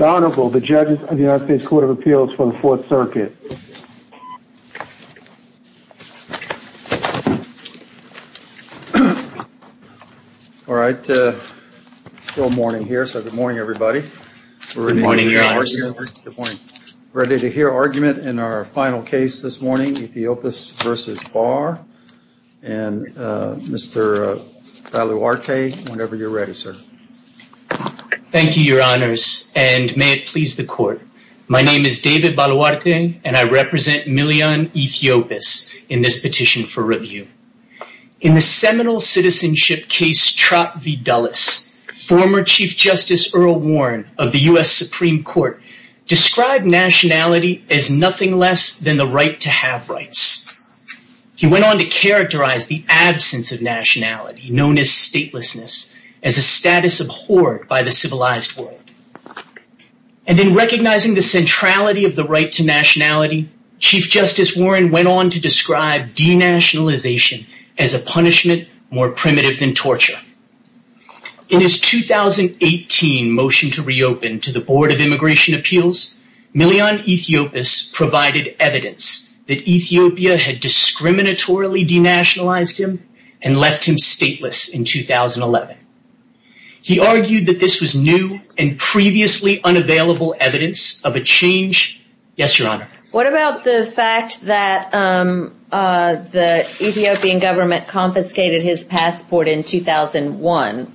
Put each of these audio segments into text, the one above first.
Honorable, the judges of the United States Court of Appeals for the Fourth Circuit. All right, it's still morning here, so good morning, everybody. Good morning, Your Honor. We're ready to hear argument in our final case this morning, Ethiopis v. Barr. And Mr. Baluwarte, whenever you're ready, sir. Thank you, Your Honors, and may it please the Court. My name is David Baluwarte, and I represent Miliyon Ethiopis in this petition for review. In the seminal citizenship case Trot v. Dulles, former Chief Justice Earl Warren of the U.S. Supreme Court described nationality as nothing less than the right to have rights. He went on to characterize the absence of nationality, known as statelessness, as a status abhorred by the civilized world. And in recognizing the centrality of the right to nationality, Chief Justice Warren went on to describe denationalization as a punishment more primitive than torture. In his 2018 motion to reopen to the Board of Immigration Appeals, Miliyon Ethiopis provided evidence that Ethiopia had discriminatorily denationalized him and left him stateless in 2011. He argued that this was new and previously unavailable evidence of a change. Yes, Your Honor. What about the fact that the Ethiopian government confiscated his passport in 2001?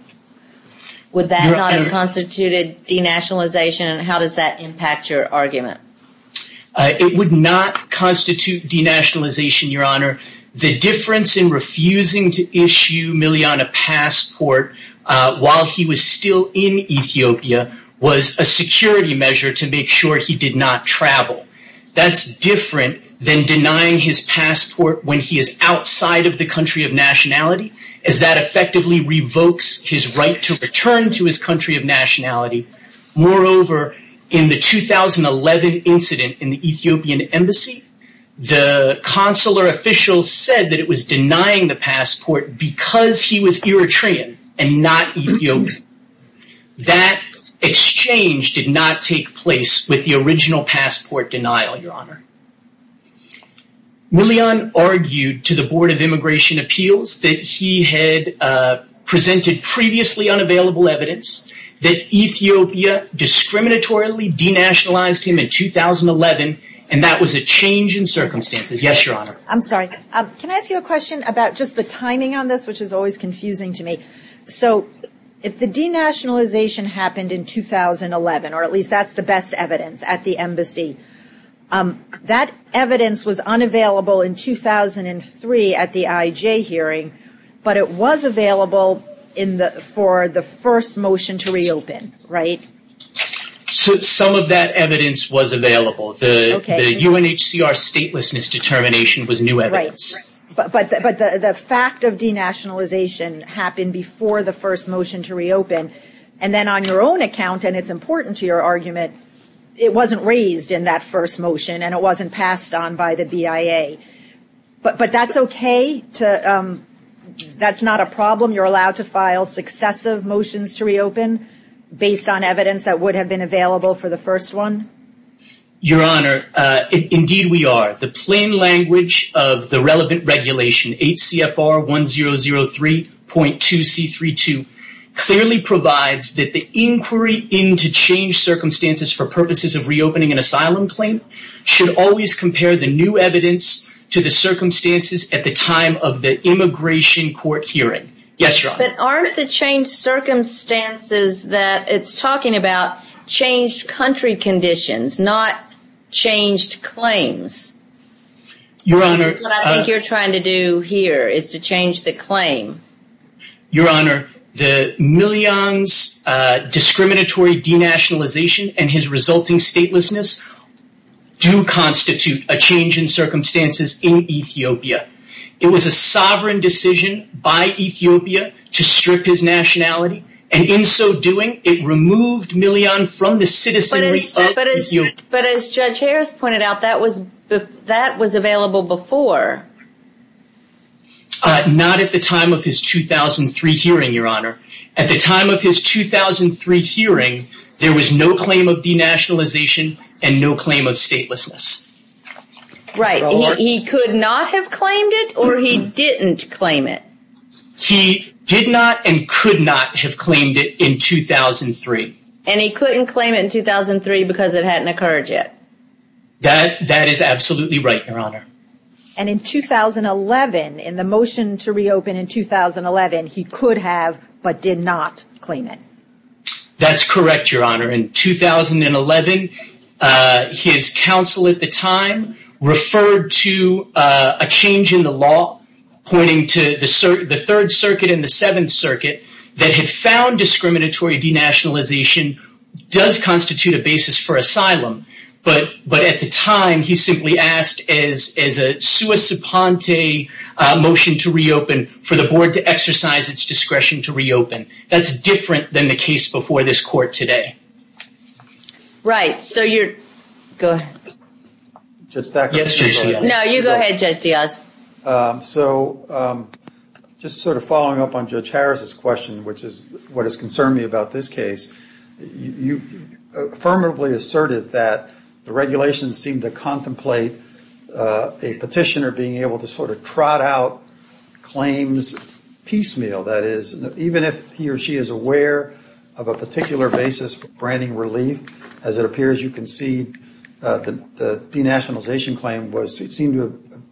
Would that not have constituted denationalization? And how does that impact your argument? It would not constitute denationalization, Your Honor. The difference in refusing to issue Miliyon a passport while he was still in Ethiopia was a security measure to make sure he did not travel. That's different than denying his passport when he is outside of the country of nationality as that effectively revokes his right to return to his country of nationality. Moreover, in the 2011 incident in the Ethiopian embassy, the consular official said that it was denying the passport because he was Eritrean and not Ethiopian. That exchange did not take place with the original passport denial, Your Honor. Miliyon argued to the Board of Immigration Appeals that he had presented previously unavailable evidence that Ethiopia discriminatorily denationalized him in 2011 and that was a change in circumstances. Yes, Your Honor. I'm sorry. Can I ask you a question about just the timing on this, which is always confusing to me? So, if the denationalization happened in 2011, or at least that's the best evidence at the embassy, that evidence was unavailable in 2003 at the IJ hearing, but it was available for the first motion to reopen, right? Some of that evidence was available. The UNHCR statelessness determination was new evidence. But the fact of denationalization happened before the first motion to reopen, and then on your own account, and it's important to your argument, it wasn't raised in that first motion and it wasn't passed on by the BIA. But that's okay? That's not a problem? You're allowed to file successive motions to reopen based on evidence that would have been available for the first one? Your Honor, indeed we are. The plain language of the relevant regulation, 8 CFR 1003.2 C32, clearly provides that the inquiry into changed circumstances for purposes of reopening an asylum claim should always compare the new evidence to the circumstances at the time of the immigration court hearing. Yes, Your Honor? But aren't the changed circumstances that it's talking about changed country conditions, not changed claims? That's what I think you're trying to do here, is to change the claim. Your Honor, Milian's discriminatory denationalization and his resulting statelessness do constitute a change in circumstances in Ethiopia. It was a sovereign decision by Ethiopia to strip his nationality, and in so doing, it removed Milian from the citizenry of Ethiopia. But as Judge Harris pointed out, that was available before. Not at the time of his 2003 hearing, Your Honor. At the time of his 2003 hearing, there was no claim of denationalization and no claim of statelessness. Right. He could not have claimed it, or he didn't claim it? He did not and could not have claimed it in 2003. And he couldn't claim it in 2003 because it hadn't occurred yet? That is absolutely right, Your Honor. And in 2011, in the motion to reopen in 2011, he could have but did not claim it? That's correct, Your Honor. In 2011, his counsel at the time referred to a change in the law pointing to the Third Circuit and the Seventh Circuit that had found discriminatory denationalization does constitute a basis for asylum. But at the time, he simply asked as a sua suponte motion to reopen for the board to exercise its discretion to reopen. That's different than the case before this court today. Right. So you're... Go ahead. No, you go ahead, Judge Diaz. So just sort of following up on Judge Harris's question, which is what has concerned me about this case, you affirmatively asserted that the regulations seem to contemplate a petitioner being able to sort of trot out claims piecemeal. That is, even if he or she is aware of a particular basis for branding relief, as it appears you concede the denationalization claim seemed to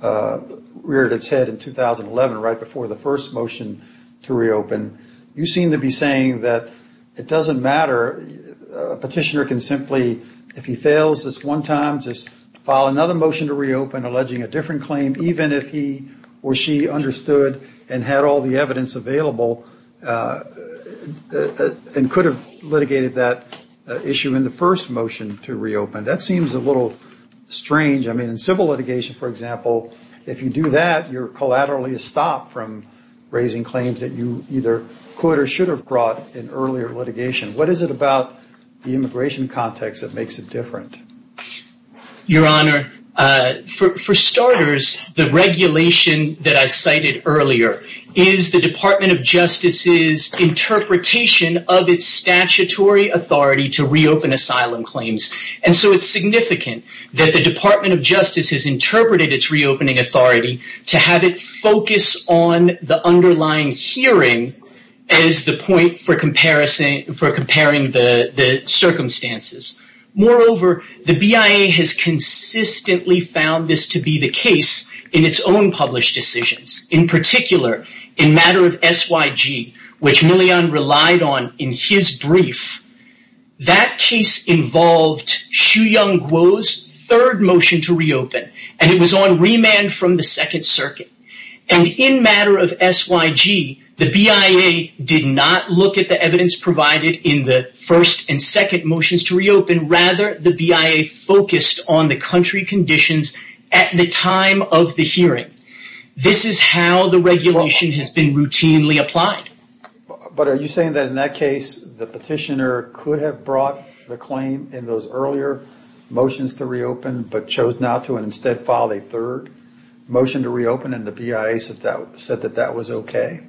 have reared its head in 2011, right before the first motion to reopen. You seem to be saying that it doesn't matter. A petitioner can simply, if he fails this one time, just file another motion to reopen alleging a different claim, even if he or she understood and had all the evidence available and could have litigated that issue in the first motion to reopen. That seems a little strange. I mean, in civil litigation, for example, if you do that, you're collaterally a stop from raising claims that you either could or should have brought in earlier litigation. What is it about the immigration context that makes it different? Your Honor, for starters, the regulation that I cited earlier is the Department of Justice's interpretation of its statutory authority to reopen asylum claims. And so it's significant that the Department of Justice has interpreted its reopening authority to have it focus on the underlying hearing as the point for comparing the circumstances. Moreover, the BIA has consistently found this to be the case in its own published decisions. In particular, in matter of SYG, which Millian relied on in his brief, that case involved Shu-Yung Guo's third motion to reopen, and it was on remand from the Second Circuit. And in matter of SYG, the BIA did not look at the evidence provided in the first and second motions to reopen. Rather, the BIA focused on the country conditions at the time of the hearing. This is how the regulation has been routinely applied. But are you saying that in that case, the petitioner could have brought the claim in those earlier motions to reopen but chose not to and instead filed a third motion to reopen and the BIA said that that was okay?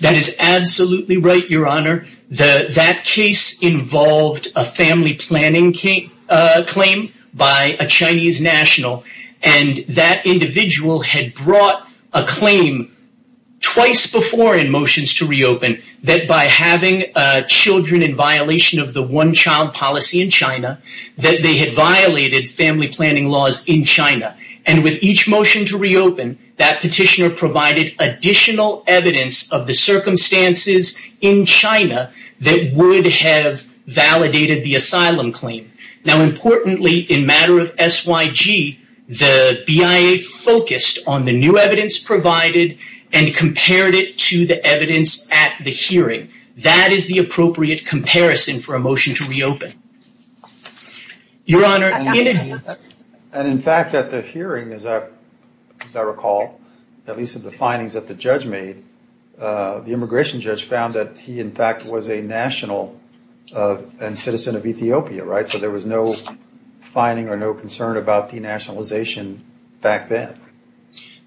That is absolutely right, Your Honor. That case involved a family planning claim by a Chinese national, and that individual had brought a claim twice before in motions to reopen that by having children in violation of the one-child policy in China that they had violated family planning laws in China. And with each motion to reopen, that petitioner provided additional evidence of the circumstances in China that would have validated the asylum claim. Now, importantly, in matter of SYG, the BIA focused on the new evidence provided and compared it to the evidence at the hearing. That is the appropriate comparison for a motion to reopen. Your Honor, in— And in fact, at the hearing, as I recall, at least of the findings that the judge made, the immigration judge found that he, in fact, was a national and citizen of Ethiopia, right? So there was no finding or no concern about denationalization back then.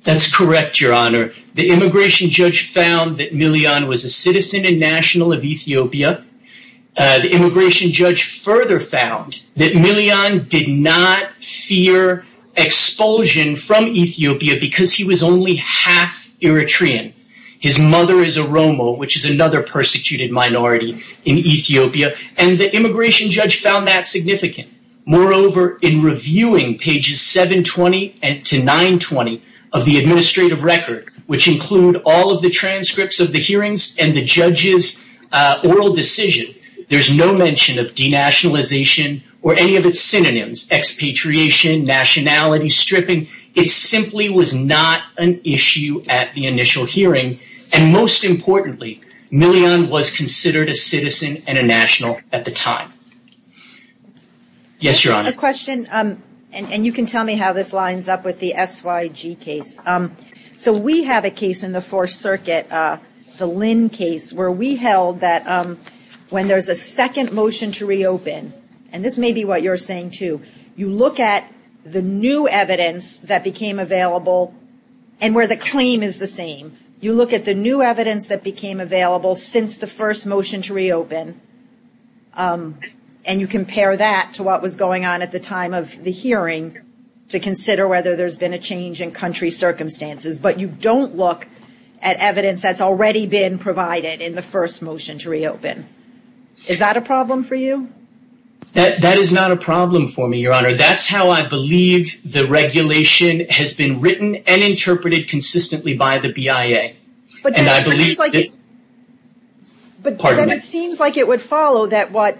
That's correct, Your Honor. The immigration judge found that Milian was a citizen and national of Ethiopia. The immigration judge further found that Milian did not fear expulsion from Ethiopia because he was only half Eritrean. His mother is a Romo, which is another persecuted minority in Ethiopia. And the immigration judge found that significant. Moreover, in reviewing pages 720 to 920 of the administrative record, which include all of the transcripts of the hearings and the judge's oral decision, there's no mention of denationalization or any of its synonyms, expatriation, nationality stripping. It simply was not an issue at the initial hearing. And most importantly, Milian was considered a citizen and a national at the time. Yes, Your Honor. A question, and you can tell me how this lines up with the SYG case. So we have a case in the Fourth Circuit, the Lynn case, where we held that when there's a second motion to reopen, and this may be what you're saying too, you look at the new evidence that became available and where the claim is the same. You look at the new evidence that became available since the first motion to reopen, and you compare that to what was going on at the time of the hearing to consider whether there's been a change in country circumstances. But you don't look at evidence that's already been provided in the first motion to reopen. Is that a problem for you? That is not a problem for me, Your Honor. That's how I believe the regulation has been written and interpreted consistently by the BIA. But then it seems like it would follow that what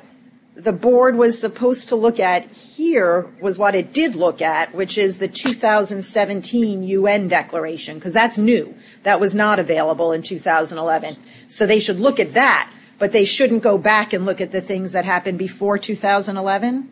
the board was supposed to look at here was what it did look at, which is the 2017 UN declaration, because that's new. That was not available in 2011. So they should look at that, but they shouldn't go back and look at the things that happened before 2011?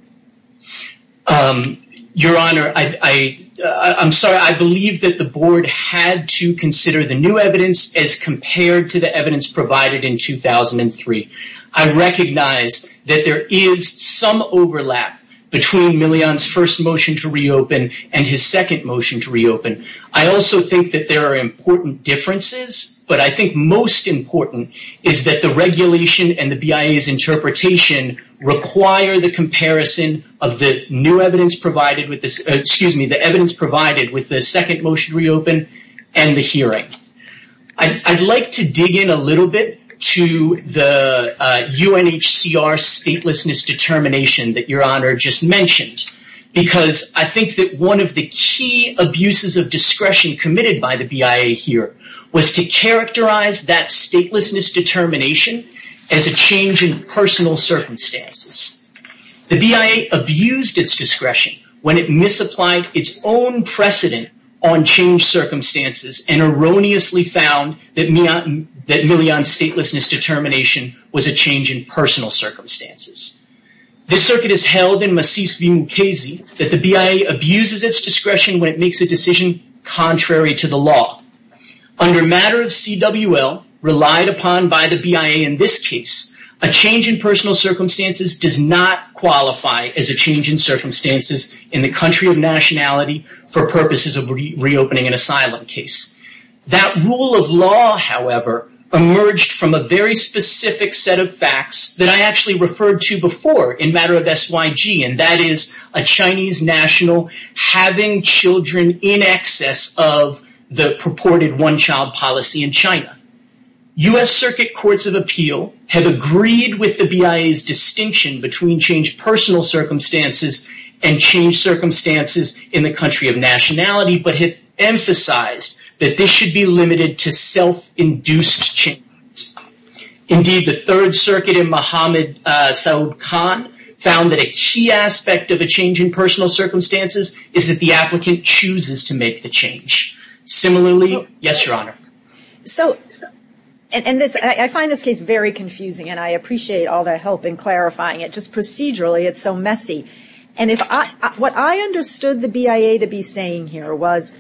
Your Honor, I'm sorry. I believe that the board had to consider the new evidence as compared to the evidence provided in 2003. I recognize that there is some overlap between Milian's first motion to reopen and his second motion to reopen. I also think that there are important differences, but I think most important is that the regulation and the BIA's interpretation require the comparison of the new evidence provided with the second motion to reopen and the hearing. I'd like to dig in a little bit to the UNHCR statelessness determination that Your Honor just mentioned, because I think that one of the key abuses of discretion committed by the BIA here was to characterize that statelessness determination as a change in personal circumstances. The BIA abused its discretion when it misapplied its own precedent on changed circumstances and erroneously found that Milian's statelessness determination was a change in personal circumstances. This circuit has held in Macis v. Mukasey that the BIA abuses its discretion when it makes a decision contrary to the law. Under matter of CWL, relied upon by the BIA in this case, a change in personal circumstances does not qualify as a change in circumstances in the country of nationality for purposes of reopening an asylum case. That rule of law, however, emerged from a very specific set of facts that I actually referred to before in matter of SYG, and that is a Chinese national having children in excess of the purported one-child policy in China. U.S. Circuit Courts of Appeal have agreed with the BIA's distinction between changed personal circumstances and changed circumstances in the country of nationality, but have emphasized that this should be limited to self-induced change. Indeed, the Third Circuit in Mohammed Saoud Khan found that a key aspect of a change in personal circumstances is that the applicant chooses to make the change. Similarly, yes, Your Honor. So, and I find this case very confusing, and I appreciate all the help in clarifying it. Just procedurally, it's so messy. And what I understood the BIA to be saying here was,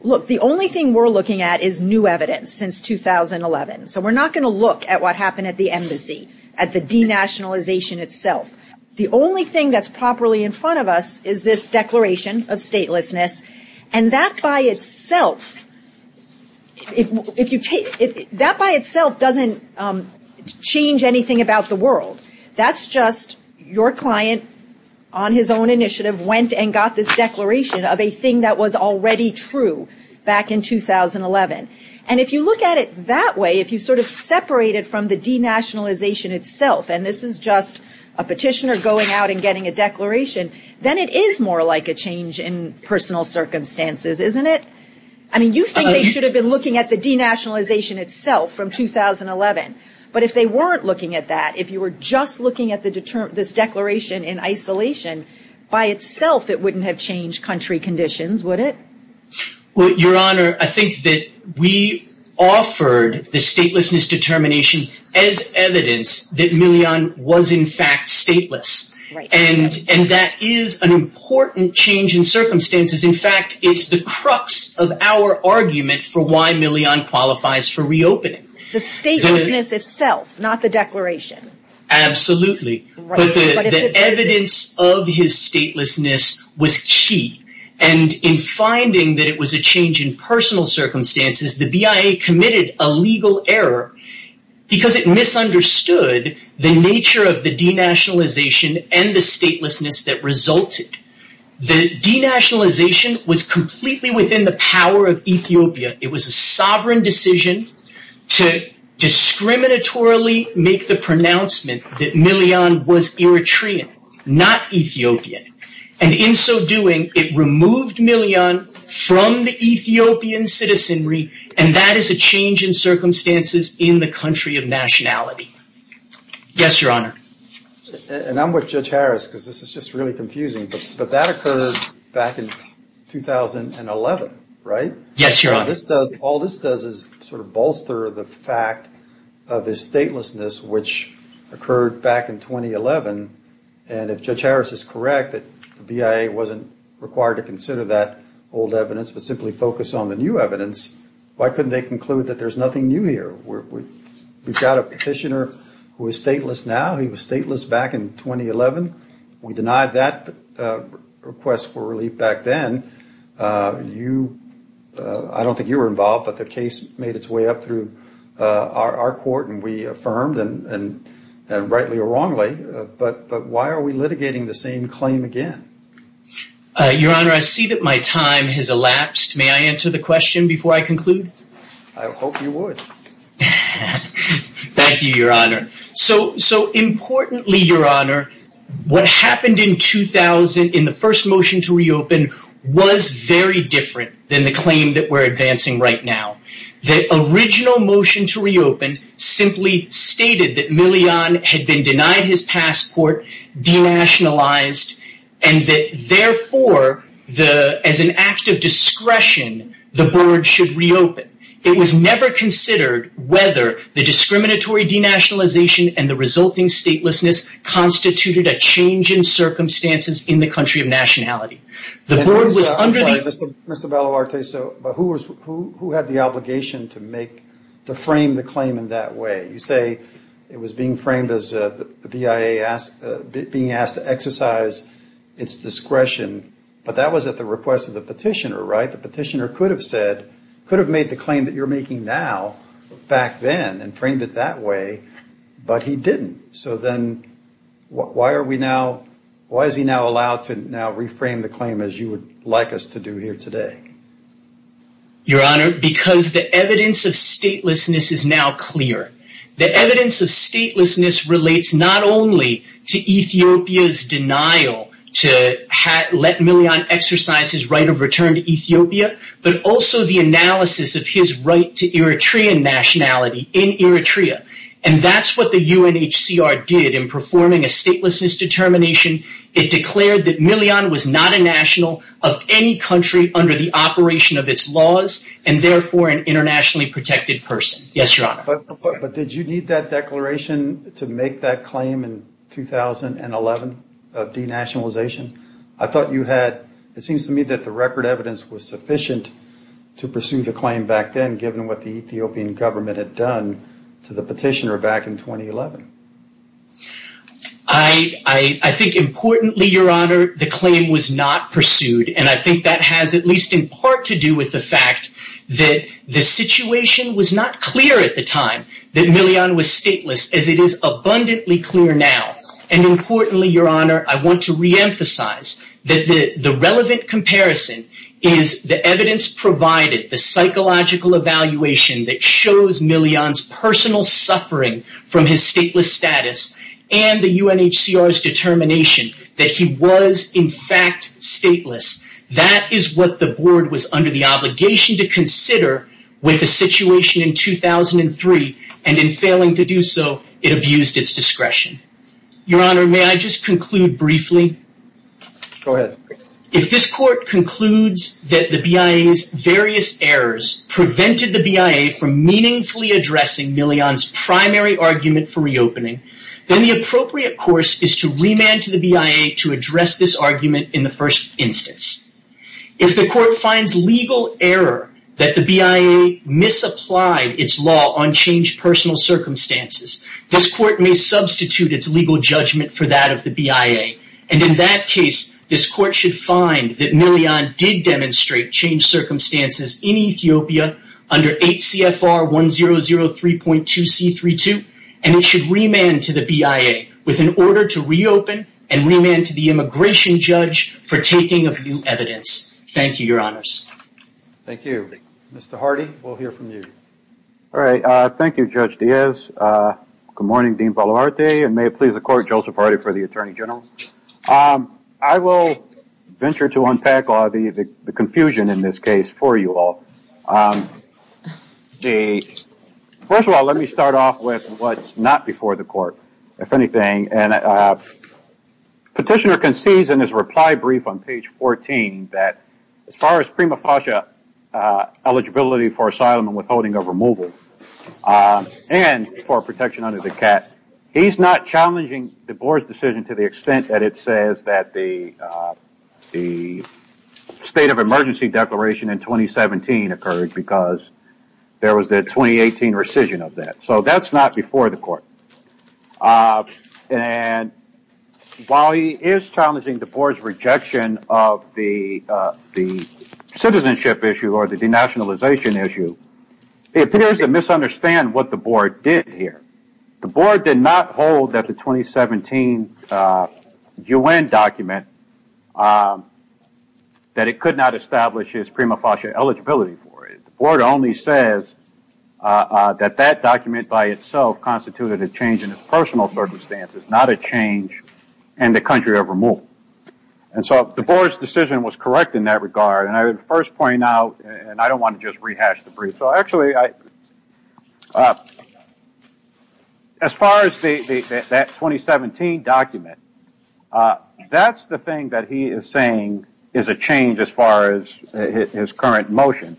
look, the only thing we're looking at is new evidence since 2011. So we're not going to look at what happened at the embassy, at the denationalization itself. The only thing that's properly in front of us is this declaration of statelessness, and that by itself, if you take, that by itself doesn't change anything about the world. That's just your client, on his own initiative, went and got this declaration of a thing that was already true back in 2011. And if you look at it that way, if you sort of separate it from the denationalization itself, and this is just a petitioner going out and getting a declaration, then it is more like a change in personal circumstances, isn't it? I mean, you think they should have been looking at the denationalization itself from 2011. But if they weren't looking at that, if you were just looking at this declaration in isolation, by itself it wouldn't have changed country conditions, would it? Well, Your Honor, I think that we offered the statelessness determination as evidence that Millian was in fact stateless. And that is an important change in circumstances. In fact, it's the crux of our argument for why Millian qualifies for reopening. The statelessness itself, not the declaration. Absolutely. But the evidence of his statelessness was key. And in finding that it was a change in personal circumstances, the BIA committed a legal error because it misunderstood the nature of the denationalization and the statelessness that resulted. The denationalization was completely within the power of Ethiopia. It was a sovereign decision to discriminatorily make the pronouncement that Millian was Eritrean, not Ethiopian. And in so doing, it removed Millian from the Ethiopian citizenry. And that is a change in circumstances in the country of nationality. Yes, Your Honor. And I'm with Judge Harris because this is just really confusing. But that occurred back in 2011, right? Yes, Your Honor. All this does is sort of bolster the fact of his statelessness, which occurred back in 2011. And if Judge Harris is correct, the BIA wasn't required to consider that old evidence but simply focus on the new evidence, why couldn't they conclude that there's nothing new here? We've got a petitioner who is stateless now. He was stateless back in 2011. We denied that request for relief back then. I don't think you were involved, but the case made its way up through our court and we affirmed rightly or wrongly. But why are we litigating the same claim again? Your Honor, I see that my time has elapsed. May I answer the question before I conclude? I hope you would. Thank you, Your Honor. So importantly, Your Honor, what happened in the first motion to reopen was very different than the claim that we're advancing right now. The original motion to reopen simply stated that Millian had been denied his passport, denationalized, and that therefore, as an act of discretion, the board should reopen. It was never considered whether the discriminatory denationalization and the resulting statelessness constituted a change in circumstances in the country of nationality. The board was under the... I'm sorry, Mr. Baloarte, but who had the obligation to frame the claim in that way? You say it was being framed as the BIA being asked to exercise its discretion, but that was at the request of the petitioner, right? The petitioner could have said, could have made the claim that you're making now back then and framed it that way, but he didn't. So then, why are we now... Why is he now allowed to now reframe the claim as you would like us to do here today? Your Honor, because the evidence of statelessness is now clear. The evidence of statelessness relates not only to Ethiopia's denial to let Millian exercise his right of return to Ethiopia, but also the analysis of his right to Eritrean nationality in Eritrea. And that's what the UNHCR did in performing a statelessness determination. It declared that Millian was not a national of any country under the operation of its laws and therefore an internationally protected person. Yes, Your Honor. But did you need that declaration to make that claim in 2011 of denationalization? I thought you had... It seems to me that the record evidence was sufficient to pursue the claim back then, given what the Ethiopian government had done to the petitioner back in 2011. I think, importantly, Your Honor, the claim was not pursued. And I think that has at least in part to do with the fact that the situation was not clear at the time that Millian was stateless, as it is abundantly clear now. And importantly, Your Honor, I want to reemphasize that the relevant comparison is the evidence provided, the psychological evaluation that shows Millian's personal suffering from his stateless status and the UNHCR's determination that he was in fact stateless. That is what the board was under the obligation to consider with the situation in 2003. And in failing to do so, it abused its discretion. Your Honor, may I just conclude briefly? Go ahead. If this court concludes that the BIA's various errors prevented the BIA from meaningfully addressing Millian's primary argument for reopening, then the appropriate course is to remand to the BIA to address this argument in the first instance. If the court finds legal error that the BIA misapplied its law on changed personal circumstances, this court may substitute its legal judgment for that of the BIA. And in that case, this court should find that Millian did demonstrate changed circumstances in Ethiopia under 8 CFR 1003.2C32, and it should remand to the BIA with an order to reopen and remand to the immigration judge for taking of new evidence. Thank you, Your Honors. Thank you. Mr. Hardy, we'll hear from you. All right. Thank you, Judge Diaz. Good morning, Dean Palomarte. And may it please the Court, Joseph Hardy for the Attorney General. I will venture to unpack the confusion in this case for you all. First of all, let me start off with what's not before the Court, if anything. Petitioner concedes in his reply brief on page 14 that as far as prima facie eligibility for asylum and withholding of removal and for protection under the CAT, he's not challenging the Board's decision to the extent that it says that the State of Emergency Declaration in 2017 occurred because there was a 2018 rescission of that. So that's not before the Court. And while he is challenging the Board's rejection of the citizenship issue or the denationalization issue, he appears to misunderstand what the Board did here. The Board did not hold that the 2017 U.N. document, that it could not establish his prima facie eligibility for it. The Board only says that that document by itself constituted a change in his personal circumstances, not a change in the country of removal. And so the Board's decision was correct in that regard. And I would first point out, and I don't want to just rehash the brief, so actually, as far as that 2017 document, that's the thing that he is saying is a change as far as his current motion.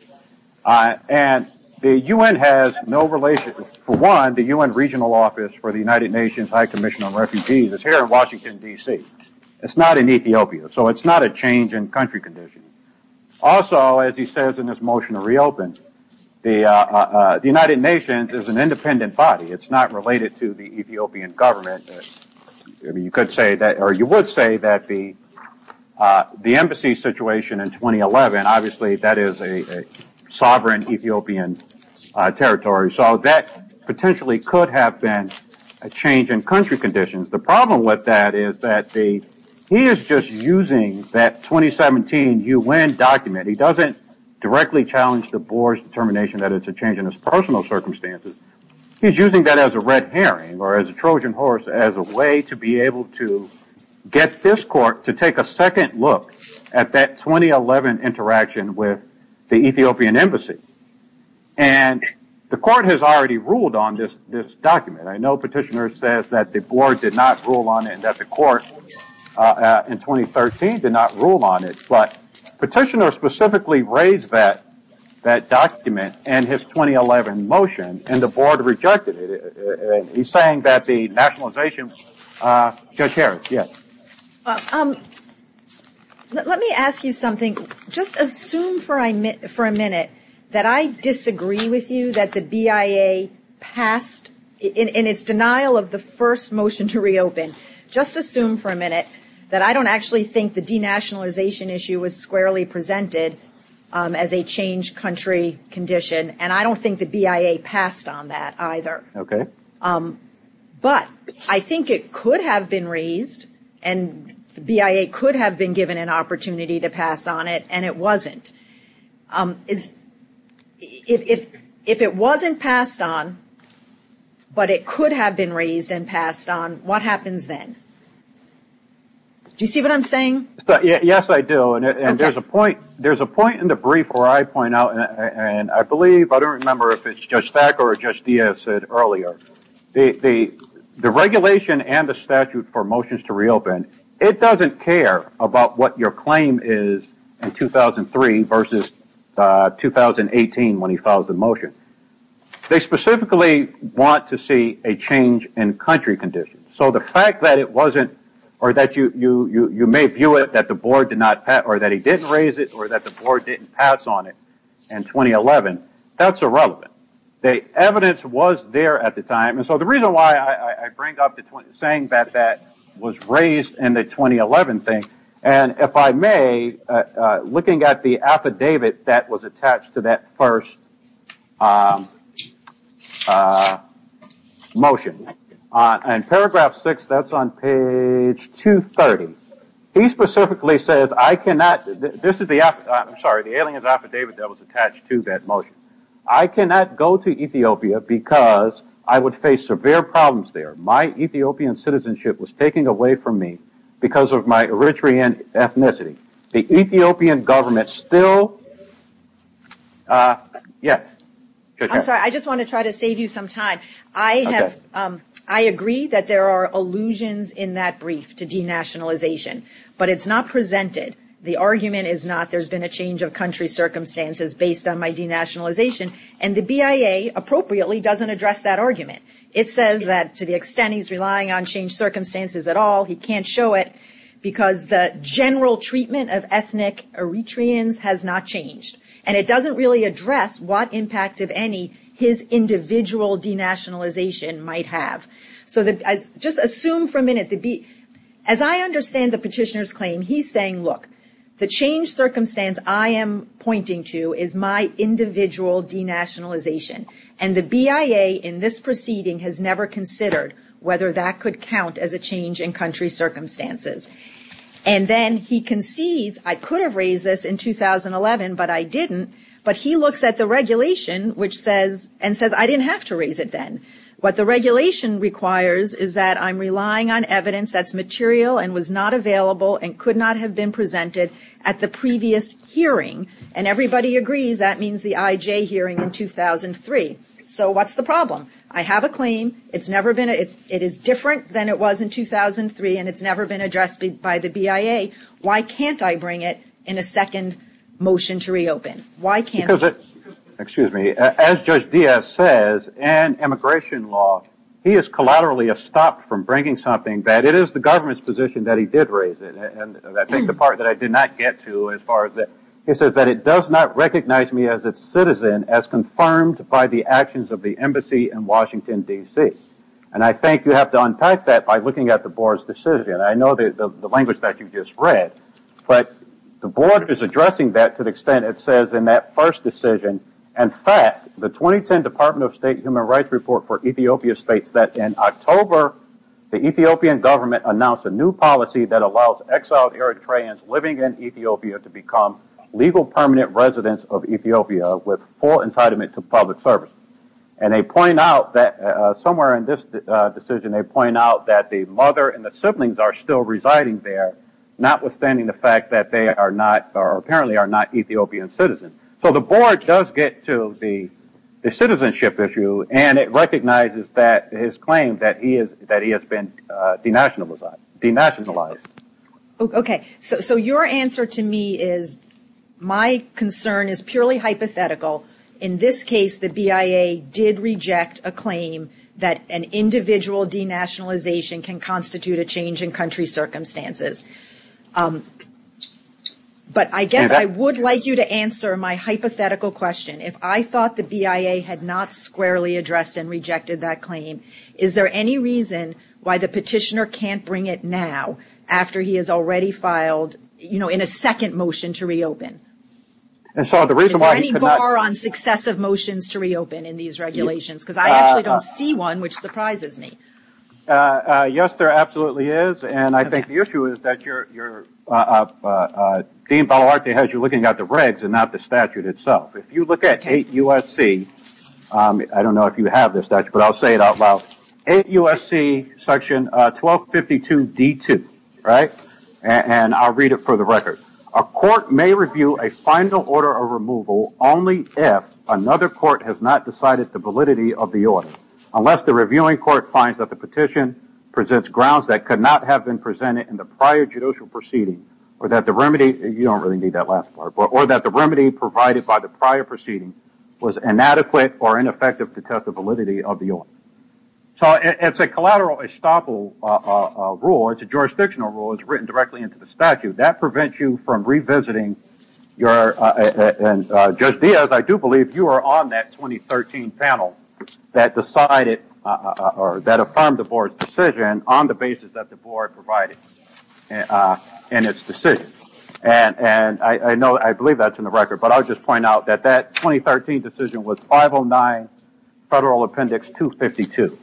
And the U.N. has no relation, for one, the U.N. Regional Office for the United Nations High Commission on Refugees is here in Washington, D.C. It's not in Ethiopia, so it's not a change in country conditions. Also, as he says in his motion to reopen, the United Nations is an independent body. It's not related to the Ethiopian government. I mean, you could say that, or you would say that the embassy situation in 2011, obviously, that is a sovereign Ethiopian territory. So that potentially could have been a change in country conditions. The problem with that is that he is just using that 2017 U.N. document. He doesn't directly challenge the board's determination that it's a change in his personal circumstances. He's using that as a red herring, or as a Trojan horse, as a way to be able to get this court to take a second look at that 2011 interaction with the Ethiopian embassy. And the court has already ruled on this document. I know Petitioner says that the board did not rule on it, that the court in 2013 did not rule on it, but Petitioner specifically raised that document in his 2011 motion, and the board rejected it. He's saying that the nationalization... Judge Harris, yes. Let me ask you something. Just assume for a minute that I disagree with you that the BIA passed, in its denial of the first motion to reopen, just assume for a minute that I don't actually think the denationalization issue was squarely presented as a change country condition, and I don't think the BIA passed on that either. Okay. But I think it could have been raised, and the BIA could have been given an opportunity to pass on it, and it wasn't. If it wasn't passed on, but it could have been raised and passed on, what happens then? Do you see what I'm saying? Yes, I do, and there's a point in the brief where I point out, and I believe, I don't remember if it's Judge Thacker or Judge Diaz said earlier, the regulation and the statute for motions to reopen, it doesn't care about what your claim is in 2003, versus 2018 when he filed the motion. They specifically want to see a change in country conditions, so the fact that it wasn't, or that you may view it that the board did not pass, or that he didn't raise it, or that the board didn't pass on it in 2011, that's irrelevant. The evidence was there at the time, and so the reason why I bring up saying that that was raised in the 2011 thing, and if I may, looking at the affidavit that was attached to that first motion, in paragraph 6, that's on page 230, he specifically says, I cannot, this is the affidavit, I'm sorry, the alien's affidavit that was attached to that motion. I cannot go to Ethiopia because I would face severe problems there. My Ethiopian citizenship was taken away from me because of my Eritrean ethnicity. The Ethiopian government still, yes? I'm sorry, I just want to try to save you some time. I agree that there are allusions in that brief to denationalization, but it's not presented. The argument is not, there's been a change of country circumstances based on my denationalization, and the BIA appropriately doesn't address that argument. It says that to the extent he's relying on circumstances at all, he can't show it, because the general treatment of ethnic Eritreans has not changed, and it doesn't really address what impact, if any, his individual denationalization might have. So just assume for a minute, as I understand the petitioner's claim, he's saying, look, the changed circumstance I am pointing to is my individual denationalization, and the BIA in this proceeding has never considered whether that could count as a change in country circumstances. And then he concedes, I could have raised this in 2011, but I didn't, but he looks at the regulation, and says, I didn't have to raise it then. What the regulation requires is that I'm relying on evidence that's material and was not available and could not have been presented at the previous hearing, and everybody agrees that means the IJ hearing in 2003. So what's the problem? I have a claim. It's never been, it is different than it was in 2003, and it's never been addressed by the BIA. Why can't I bring it in a second motion to reopen? Why can't I? Excuse me. As Judge Diaz says, in immigration law, he is collaterally stopped from bringing something that it is the government's position that he did raise it, and I think the part that I did not get to as far as that, he says that it does not recognize me as its citizen as confirmed by the actions of the embassy in Washington, D.C., and I think you have to unpack that by looking at the board's decision. I know the language that you just read, but the board is addressing that to the extent it says in that first decision. In fact, the 2010 Department of State Human Rights Report for Ethiopia states that in October, the Ethiopian government announced a new policy that allows exiled Eritreans living in Ethiopia to become legal permanent residents of Ethiopia with full entitlement to public service, and they point out that somewhere in this decision, they point out that the mother and the siblings are still residing there, notwithstanding the fact that they are not or apparently are not Ethiopian citizens. So the board does get to the citizenship issue, and it recognizes that his claim that he has been denationalized. Okay. So your answer to me is my concern is purely hypothetical. In this case, the BIA did reject a claim that an individual denationalization can constitute a change in country circumstances. But I guess I would like you to answer my hypothetical question. If I thought the BIA had not squarely addressed and rejected that claim, is there any reason why the petitioner can't bring it now after he has already filed, you know, in a second motion to reopen? Is there any bar on successive motions to reopen in these regulations? Because I actually don't see one, which surprises me. Yes, there absolutely is. And I think the issue is that Dean Balawarte has you looking at the regs and not the statute itself. If you look at 8 U.S.C. I don't know if you have this statute, but I'll say it out loud. 8 U.S.C. section 1252 D2, right? And I'll read it for the record. A court may review a final order of removal only if another court has not decided the validity of the order, unless the reviewing court finds that the petition presents grounds that could not have been presented in the prior judicial proceeding or that the remedy, you don't really need that last part, or that the remedy provided by the prior proceeding was inadequate or ineffective to test the validity of the order. So it's a collateral estoppel rule. It's a jurisdictional rule. It was written directly into the statute. That prevents you from revisiting your... Judge Diaz, I do believe you are on that 2013 panel that decided or that affirmed the board's decision on the basis that the board provided in its decision. And I know, I believe that's in the record, but I'll just point out that that 2013 decision was 509 Federal Appendix 252.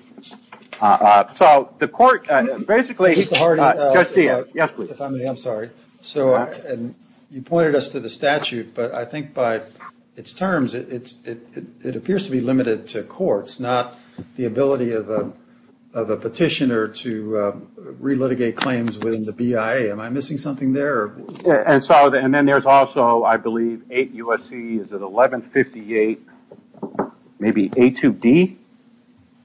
So the court basically... Yes, please. If I may, I'm sorry. So you pointed us to the statute, but I think by its terms, it appears to be limited to courts, not the ability of a petitioner to re-litigate claims within the BIA. Am I missing something there? And then there's also, I believe, 8 U.S.C., is it 1158 maybe A2D?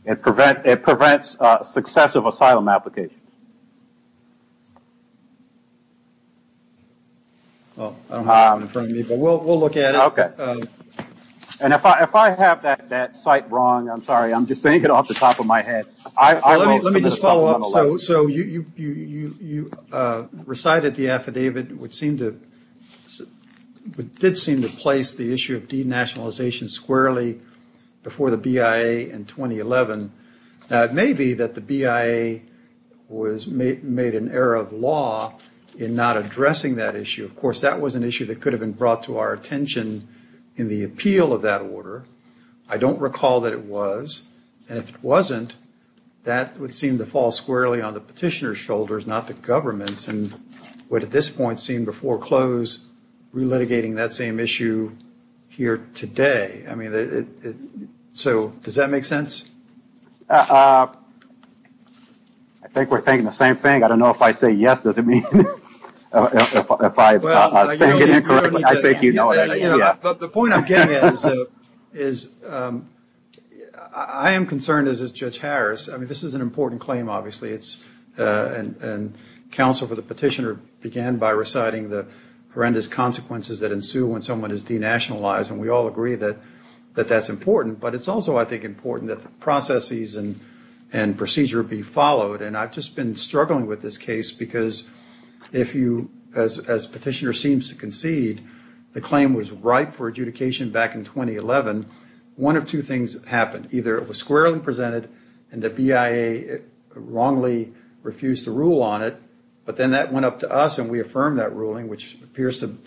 It prevents successive asylum applications. I don't have it in front of me, but we'll look at it. Okay. And if I have that site wrong, I'm sorry, I'm just thinking off the top of my head. Let me just follow up. So you recited the affidavit, which did seem to place the issue of denationalization squarely before the BIA in 2011. Now, it may be that the BIA made an error of law in not addressing that issue. Of course, that was an issue that could have been brought to our attention in the appeal of that order. I don't recall that it was. And if it wasn't, that would seem to fall squarely on the petitioner's shoulders, not the government's, and would at this point seem to foreclose re-litigating that same issue here today. So, does that make sense? I think we're thinking the same thing. I don't know if I say yes, does it mean? The point I'm getting at is I am concerned, as is Judge Harris, I mean, this is an important claim, obviously, and counsel for the petitioner began by reciting the horrendous consequences that ensue when someone is denationalized, and we all agree that that's important. But it's also, I think, important that the processes and procedure be followed. And I've just been struggling with this case, because if you, as petitioner seems to concede, the claim was ripe for adjudication back in 2011, one of two things happened. Either it was squarely presented and the BIA wrongly refused to rule on it, but then that went up to us and we affirmed that ruling, which appears to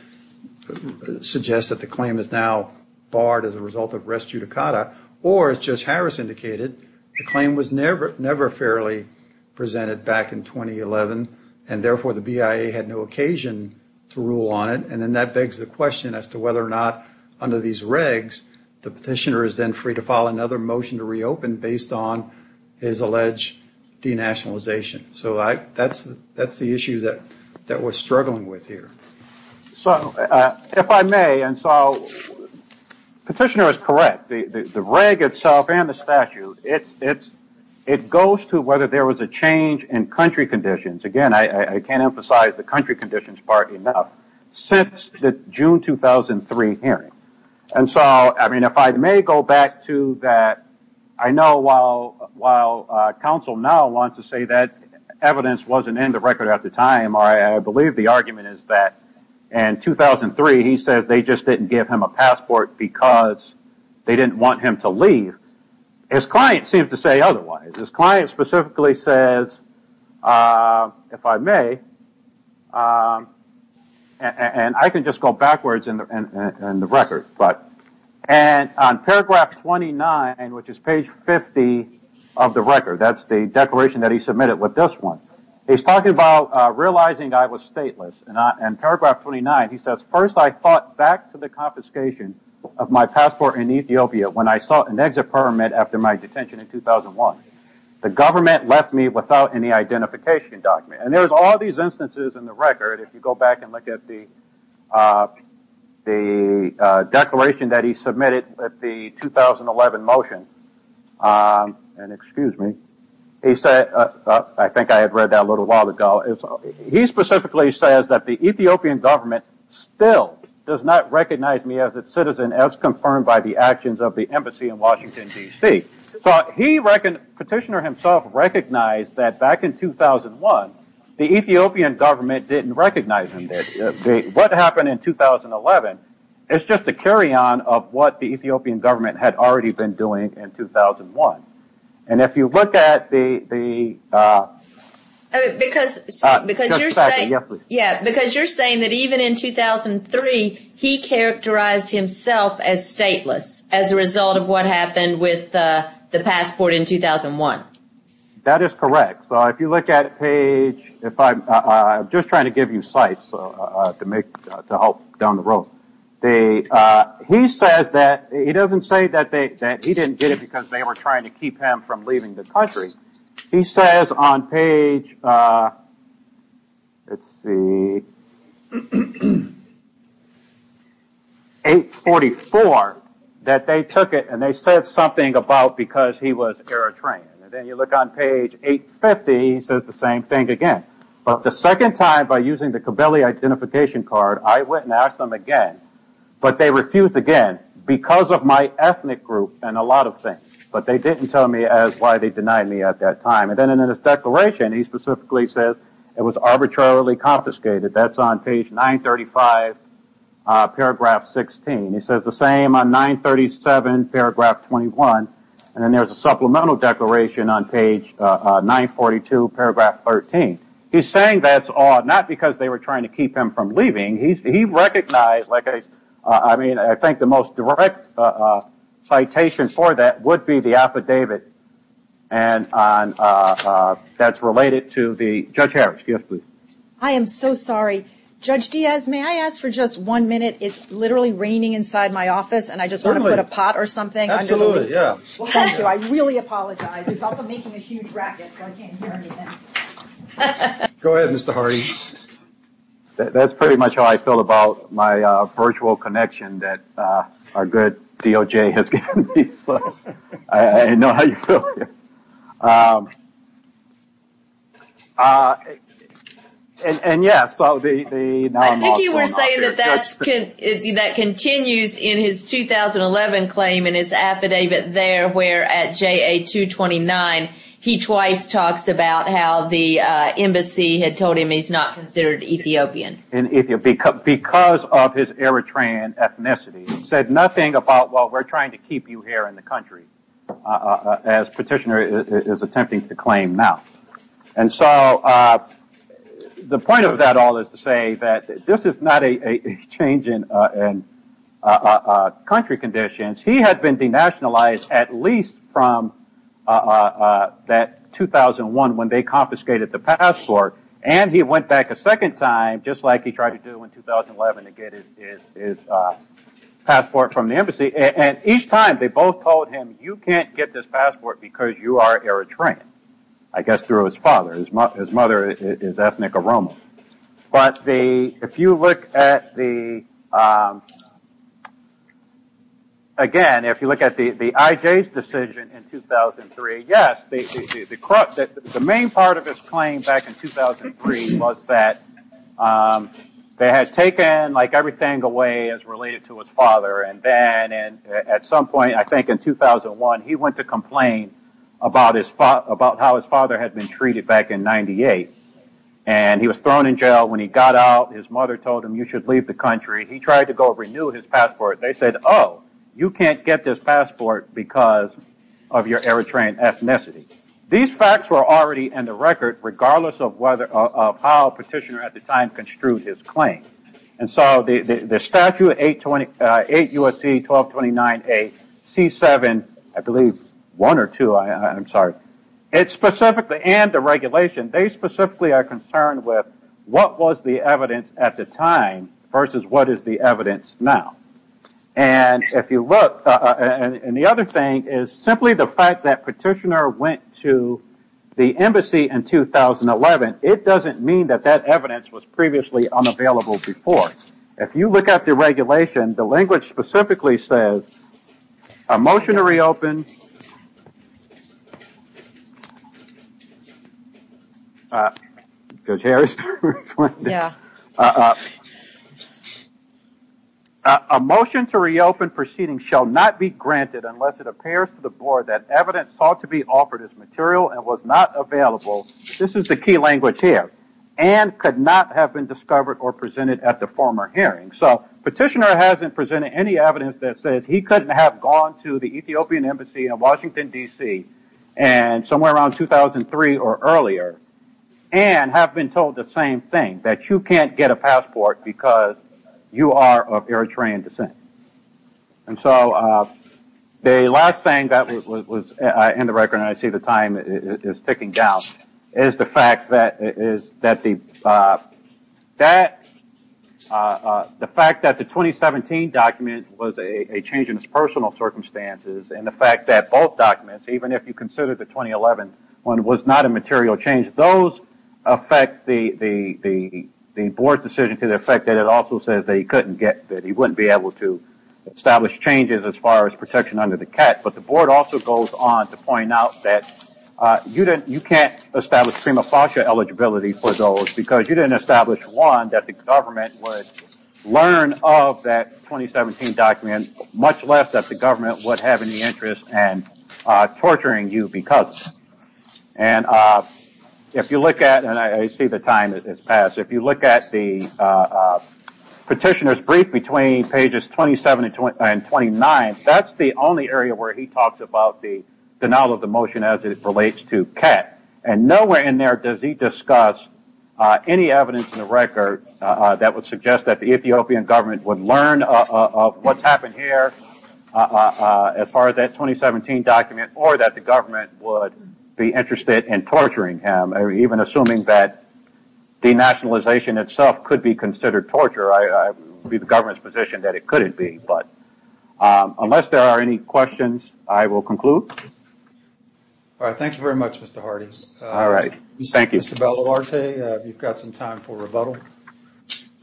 suggest that the claim is now barred as a result of res judicata. Or, as Judge Harris indicated, the claim was never fairly presented back in 2011, and therefore the BIA had no occasion to rule on it. And then that begs the question as to whether or not under these regs, the petitioner is then free to file another motion to reopen based on his alleged denationalization. So that's the issue that we're struggling with here. So, if I may, and so petitioner is correct, the reg itself and the statute, it goes to whether there was a change in country conditions, again I can't emphasize the country conditions part enough, since the June 2003 hearing. And so, if I may go back to that, I know while counsel now wants to say that evidence wasn't in the record at the time, I believe the argument is that in 2003 he says they just didn't give him a passport because they didn't want him to leave. His client seems to say otherwise. His client specifically says, if I may, and I can just go backwards in the record, and on paragraph 29, which is page 50 of the record, that's the declaration that he submitted with this one, he's talking about realizing I was stateless. And on paragraph 29 he says, first I thought back to the confiscation of my passport in Ethiopia when I sought an exit permit after my detention in 2001. The government left me without any identification document. And there's all these instances in the record, if you go back and look at the declaration that he submitted at the 2011 motion, and excuse me, he said, I think I had read that a little while ago, he specifically says that the Ethiopian government still does not recognize me as a citizen as confirmed by the actions of the embassy in Washington, D.C. So petitioner himself recognized that back in 2001, the Ethiopian government didn't recognize him then. What happened in 2011 is just a carry-on of what the Ethiopian government had already been doing in 2001. And if you look at the... Because you're saying that even in 2003 he characterized himself as stateless as a result of what happened with the passport in 2001. That is correct. So if you look at page... I'm just trying to give you sites to help down the road. He says that... He doesn't say that he didn't get it because they were trying to keep him from leaving the country. He says on page... Let's see... 844 that they took it and they said something about because he was Eritrean. And then you look on page 850, he says the same thing again. But the second time by using the Kibeli identification card, I went and asked them again. But they refused again because of my ethnic group and a lot of things. But they didn't tell me as why they denied me at that time. And then in his declaration, he specifically says it was arbitrarily confiscated. That's on page 935, paragraph 16. He says the same on 937, paragraph 21. And then there's a supplemental declaration on page 942, paragraph 13. He's saying that's odd, not because they were trying to keep him from leaving. He recognized like a... I mean, I think the most direct citation for that would be the affidavit. And that's related to the... Judge Harris. Yes, please. I am so sorry. Judge Diaz, may I ask for just one minute? It's literally raining inside my office and I just want to put a pot or something. Absolutely, yeah. Well, thank you. I really apologize. It's also making a huge racket, so I can't hear anything. Go ahead, Mr. Hardy. That's pretty much how I feel about my virtual connection that our good DOJ has given me. I know how you feel. And yeah, so the... I think you were saying that that continues in his 2011 claim in his affidavit there where at JA 229, he twice talks about how the embassy had told him he's not considered Ethiopian. Because of his Eritrean ethnicity. He said nothing about, well, we're trying to keep you here in the country, as petitioner is attempting to claim now. And so the point of that all is to say that this is not a change in country conditions. He had been denationalized at least from that 2001 when they confiscated the passport. And he went back a second time, just like he tried to do in 2011 to get his passport from the embassy. And each time they both told him, you can't get this passport because you are Eritrean. I guess through his father. His mother is ethnic Oromo. But if you look at the... Again, if you look at the IJ's decision in 2003, yes, the main part of his claim back in 2003 was that they had taken everything away as related to his father. At some point, I think in 2001, he went to complain about how his father had been treated back in 98. And he was thrown in jail. When he got out, his mother told him you should leave the country. He tried to go renew his passport. They said, oh, you can't get this passport because of your Eritrean ethnicity. These facts were already in the record regardless of how petitioner at the time construed his claim. And so the statute, 8 U.S.C. 1229A, C7, I believe one or two, I'm sorry. It specifically and the regulation, they specifically are concerned with what was the evidence at the time versus what is the evidence now. And if you look, and the other thing is simply the fact that petitioner went to the embassy in 2011, it doesn't mean that that evidence was previously unavailable before. If you look at the regulation, the language specifically says, a motion to reopen, a motion to reopen proceeding shall not be granted unless it appears to the board that evidence sought to be offered as material and was not available, this is the key language here, and could not have been discovered or presented at the former hearing. So petitioner hasn't presented any evidence that says he couldn't have gone to the Ethiopian embassy in Washington, D.C. somewhere around 2003 or earlier and have been told the same thing, that you can't get a passport because you are of Eritrean descent. And so the last thing that was in the record, and I see the time is ticking down, is the fact that the 2017 document was a change in its personal circumstances and the fact that both documents, even if you consider the 2011 one was not a material change, those affect the board's decision to the effect that it also says that he couldn't get, that he wouldn't be able to establish changes as far as protection under the cat, but the board also goes on to point out that you can't establish prima facie eligibility for those because you didn't establish, one, that the government would learn of that 2017 document, much less that the government would have any interest in torturing you because. And if you look at, and I see the time has passed, if you look at the petitioner's brief between pages 27 and 29, that's the only area where he talks about the denial of the motion as it relates to cat, and nowhere in there does he discuss any evidence in the record that would suggest that the Ethiopian government would learn of what's happened here as far as that 2017 document or that the government would be interested in torturing him, even assuming that denationalization itself could be considered torture. It would be the government's position that it couldn't be, but unless there are any questions, I will conclude. All right, thank you very much, Mr. Hardy. All right, thank you. Mr. Bellavarte, you've got some time for rebuttal.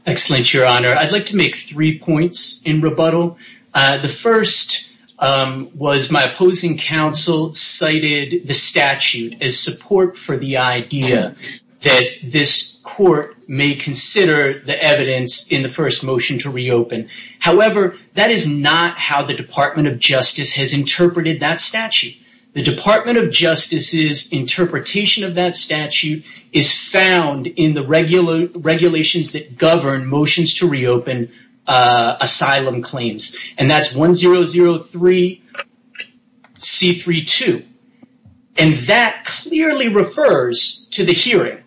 Excellent, Your Honor. I'd like to make three points in rebuttal. The first was my opposing counsel cited the statute as support for the idea that this court may consider the evidence in the first motion to reopen. However, that is not how the Department of Justice has interpreted that statute. The Department of Justice's interpretation of that statute is found in the regulations that govern motions to reopen asylum claims, and that's 1003C32, and that clearly refers to the hearing.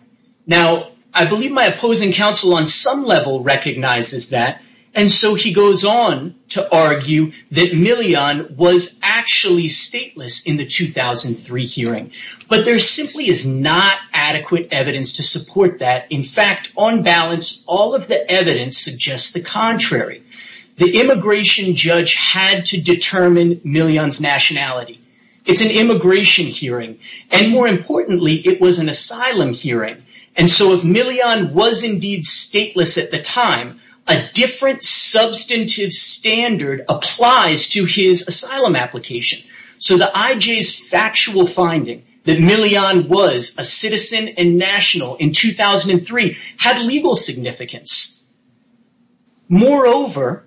Now, I believe my opposing counsel on some level recognizes that, and so he goes on to argue that Millian was actually stateless in the 2003 hearing, but there simply is not adequate evidence to support that. In fact, on balance, all of the evidence suggests the contrary. The immigration judge had to determine Millian's nationality. It's an immigration hearing, and more importantly, it was an asylum hearing, and so if Millian was indeed stateless at the time, a different substantive standard applies to his asylum application. So the IJ's factual finding that Millian was a citizen and national in 2003 had legal significance. Moreover,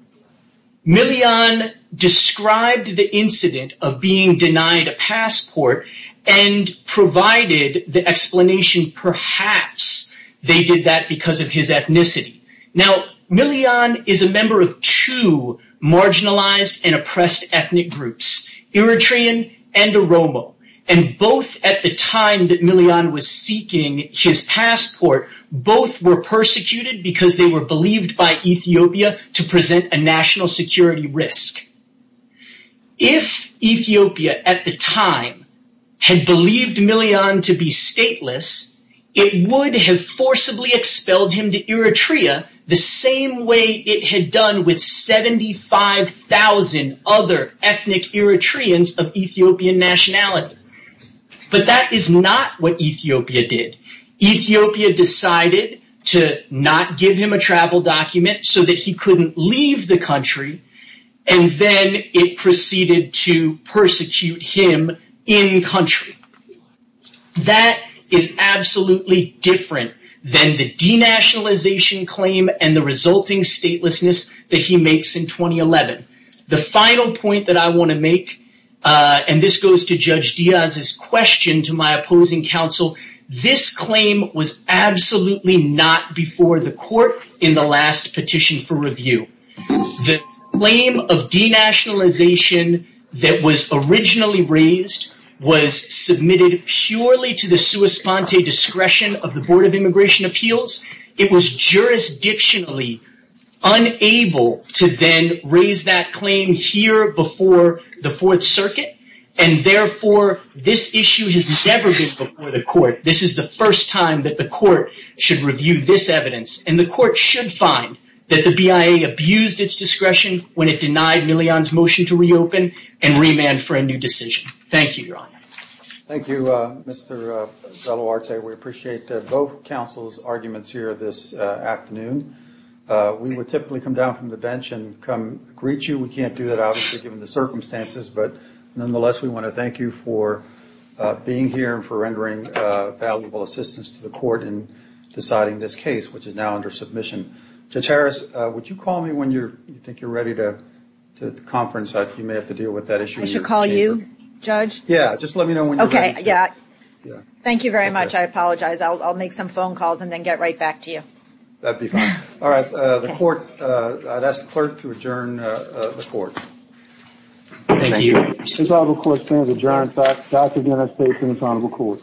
Millian described the incident of being denied a passport and provided the explanation perhaps they did that because of his ethnicity. Now, Millian is a member of two marginalized and oppressed ethnic groups. Eritrean and Oromo, and both at the time that Millian was seeking his passport, both were persecuted because they were believed by Ethiopia to present a national security risk. If Ethiopia at the time had believed Millian to be stateless, it would have forcibly expelled him to Eritrea the same way it had done with 75,000 other ethnic Eritreans of Ethiopian nationality. But that is not what Ethiopia did. Ethiopia decided to not give him a travel document so that he couldn't leave the country, and then it proceeded to persecute him in-country. That is absolutely different than the denationalization claim and the resulting statelessness that he makes in 2011. The final point that I want to make, and this goes to Judge Diaz's question to my opposing counsel, this claim was absolutely not before the court in the last petition for review. The claim of denationalization that was originally raised was submitted purely to the sua sponte discretion of the Board of Immigration Appeals. It was jurisdictionally unable to then raise that claim here before the Fourth Circuit, and therefore this issue has never been before the court. This is the first time that the court should review this evidence, and the court should find that the BIA abused its discretion when it denied Millian's motion to reopen and remand for a new decision. Thank you, Your Honor. Thank you, Mr. Veloarte. We appreciate both counsel's arguments here this afternoon. We would typically come down from the bench and come greet you. We can't do that, obviously, given the circumstances, but nonetheless we want to thank you for being here and for rendering valuable assistance to the court in deciding this case, which is now under submission. Judge Harris, would you call me when you think you're ready to conference? You may have to deal with that issue in your chamber. I should call you, Judge? Yeah, just let me know when you're ready. Okay, yeah. Thank you very much. I apologize. I'll make some phone calls and then get right back to you. That'd be fine. All right. The court, I'd ask the clerk to adjourn the court. Thank you, Your Honor. This trial of the court stands adjourned. Dr. Guinness takes in his Honorable Court.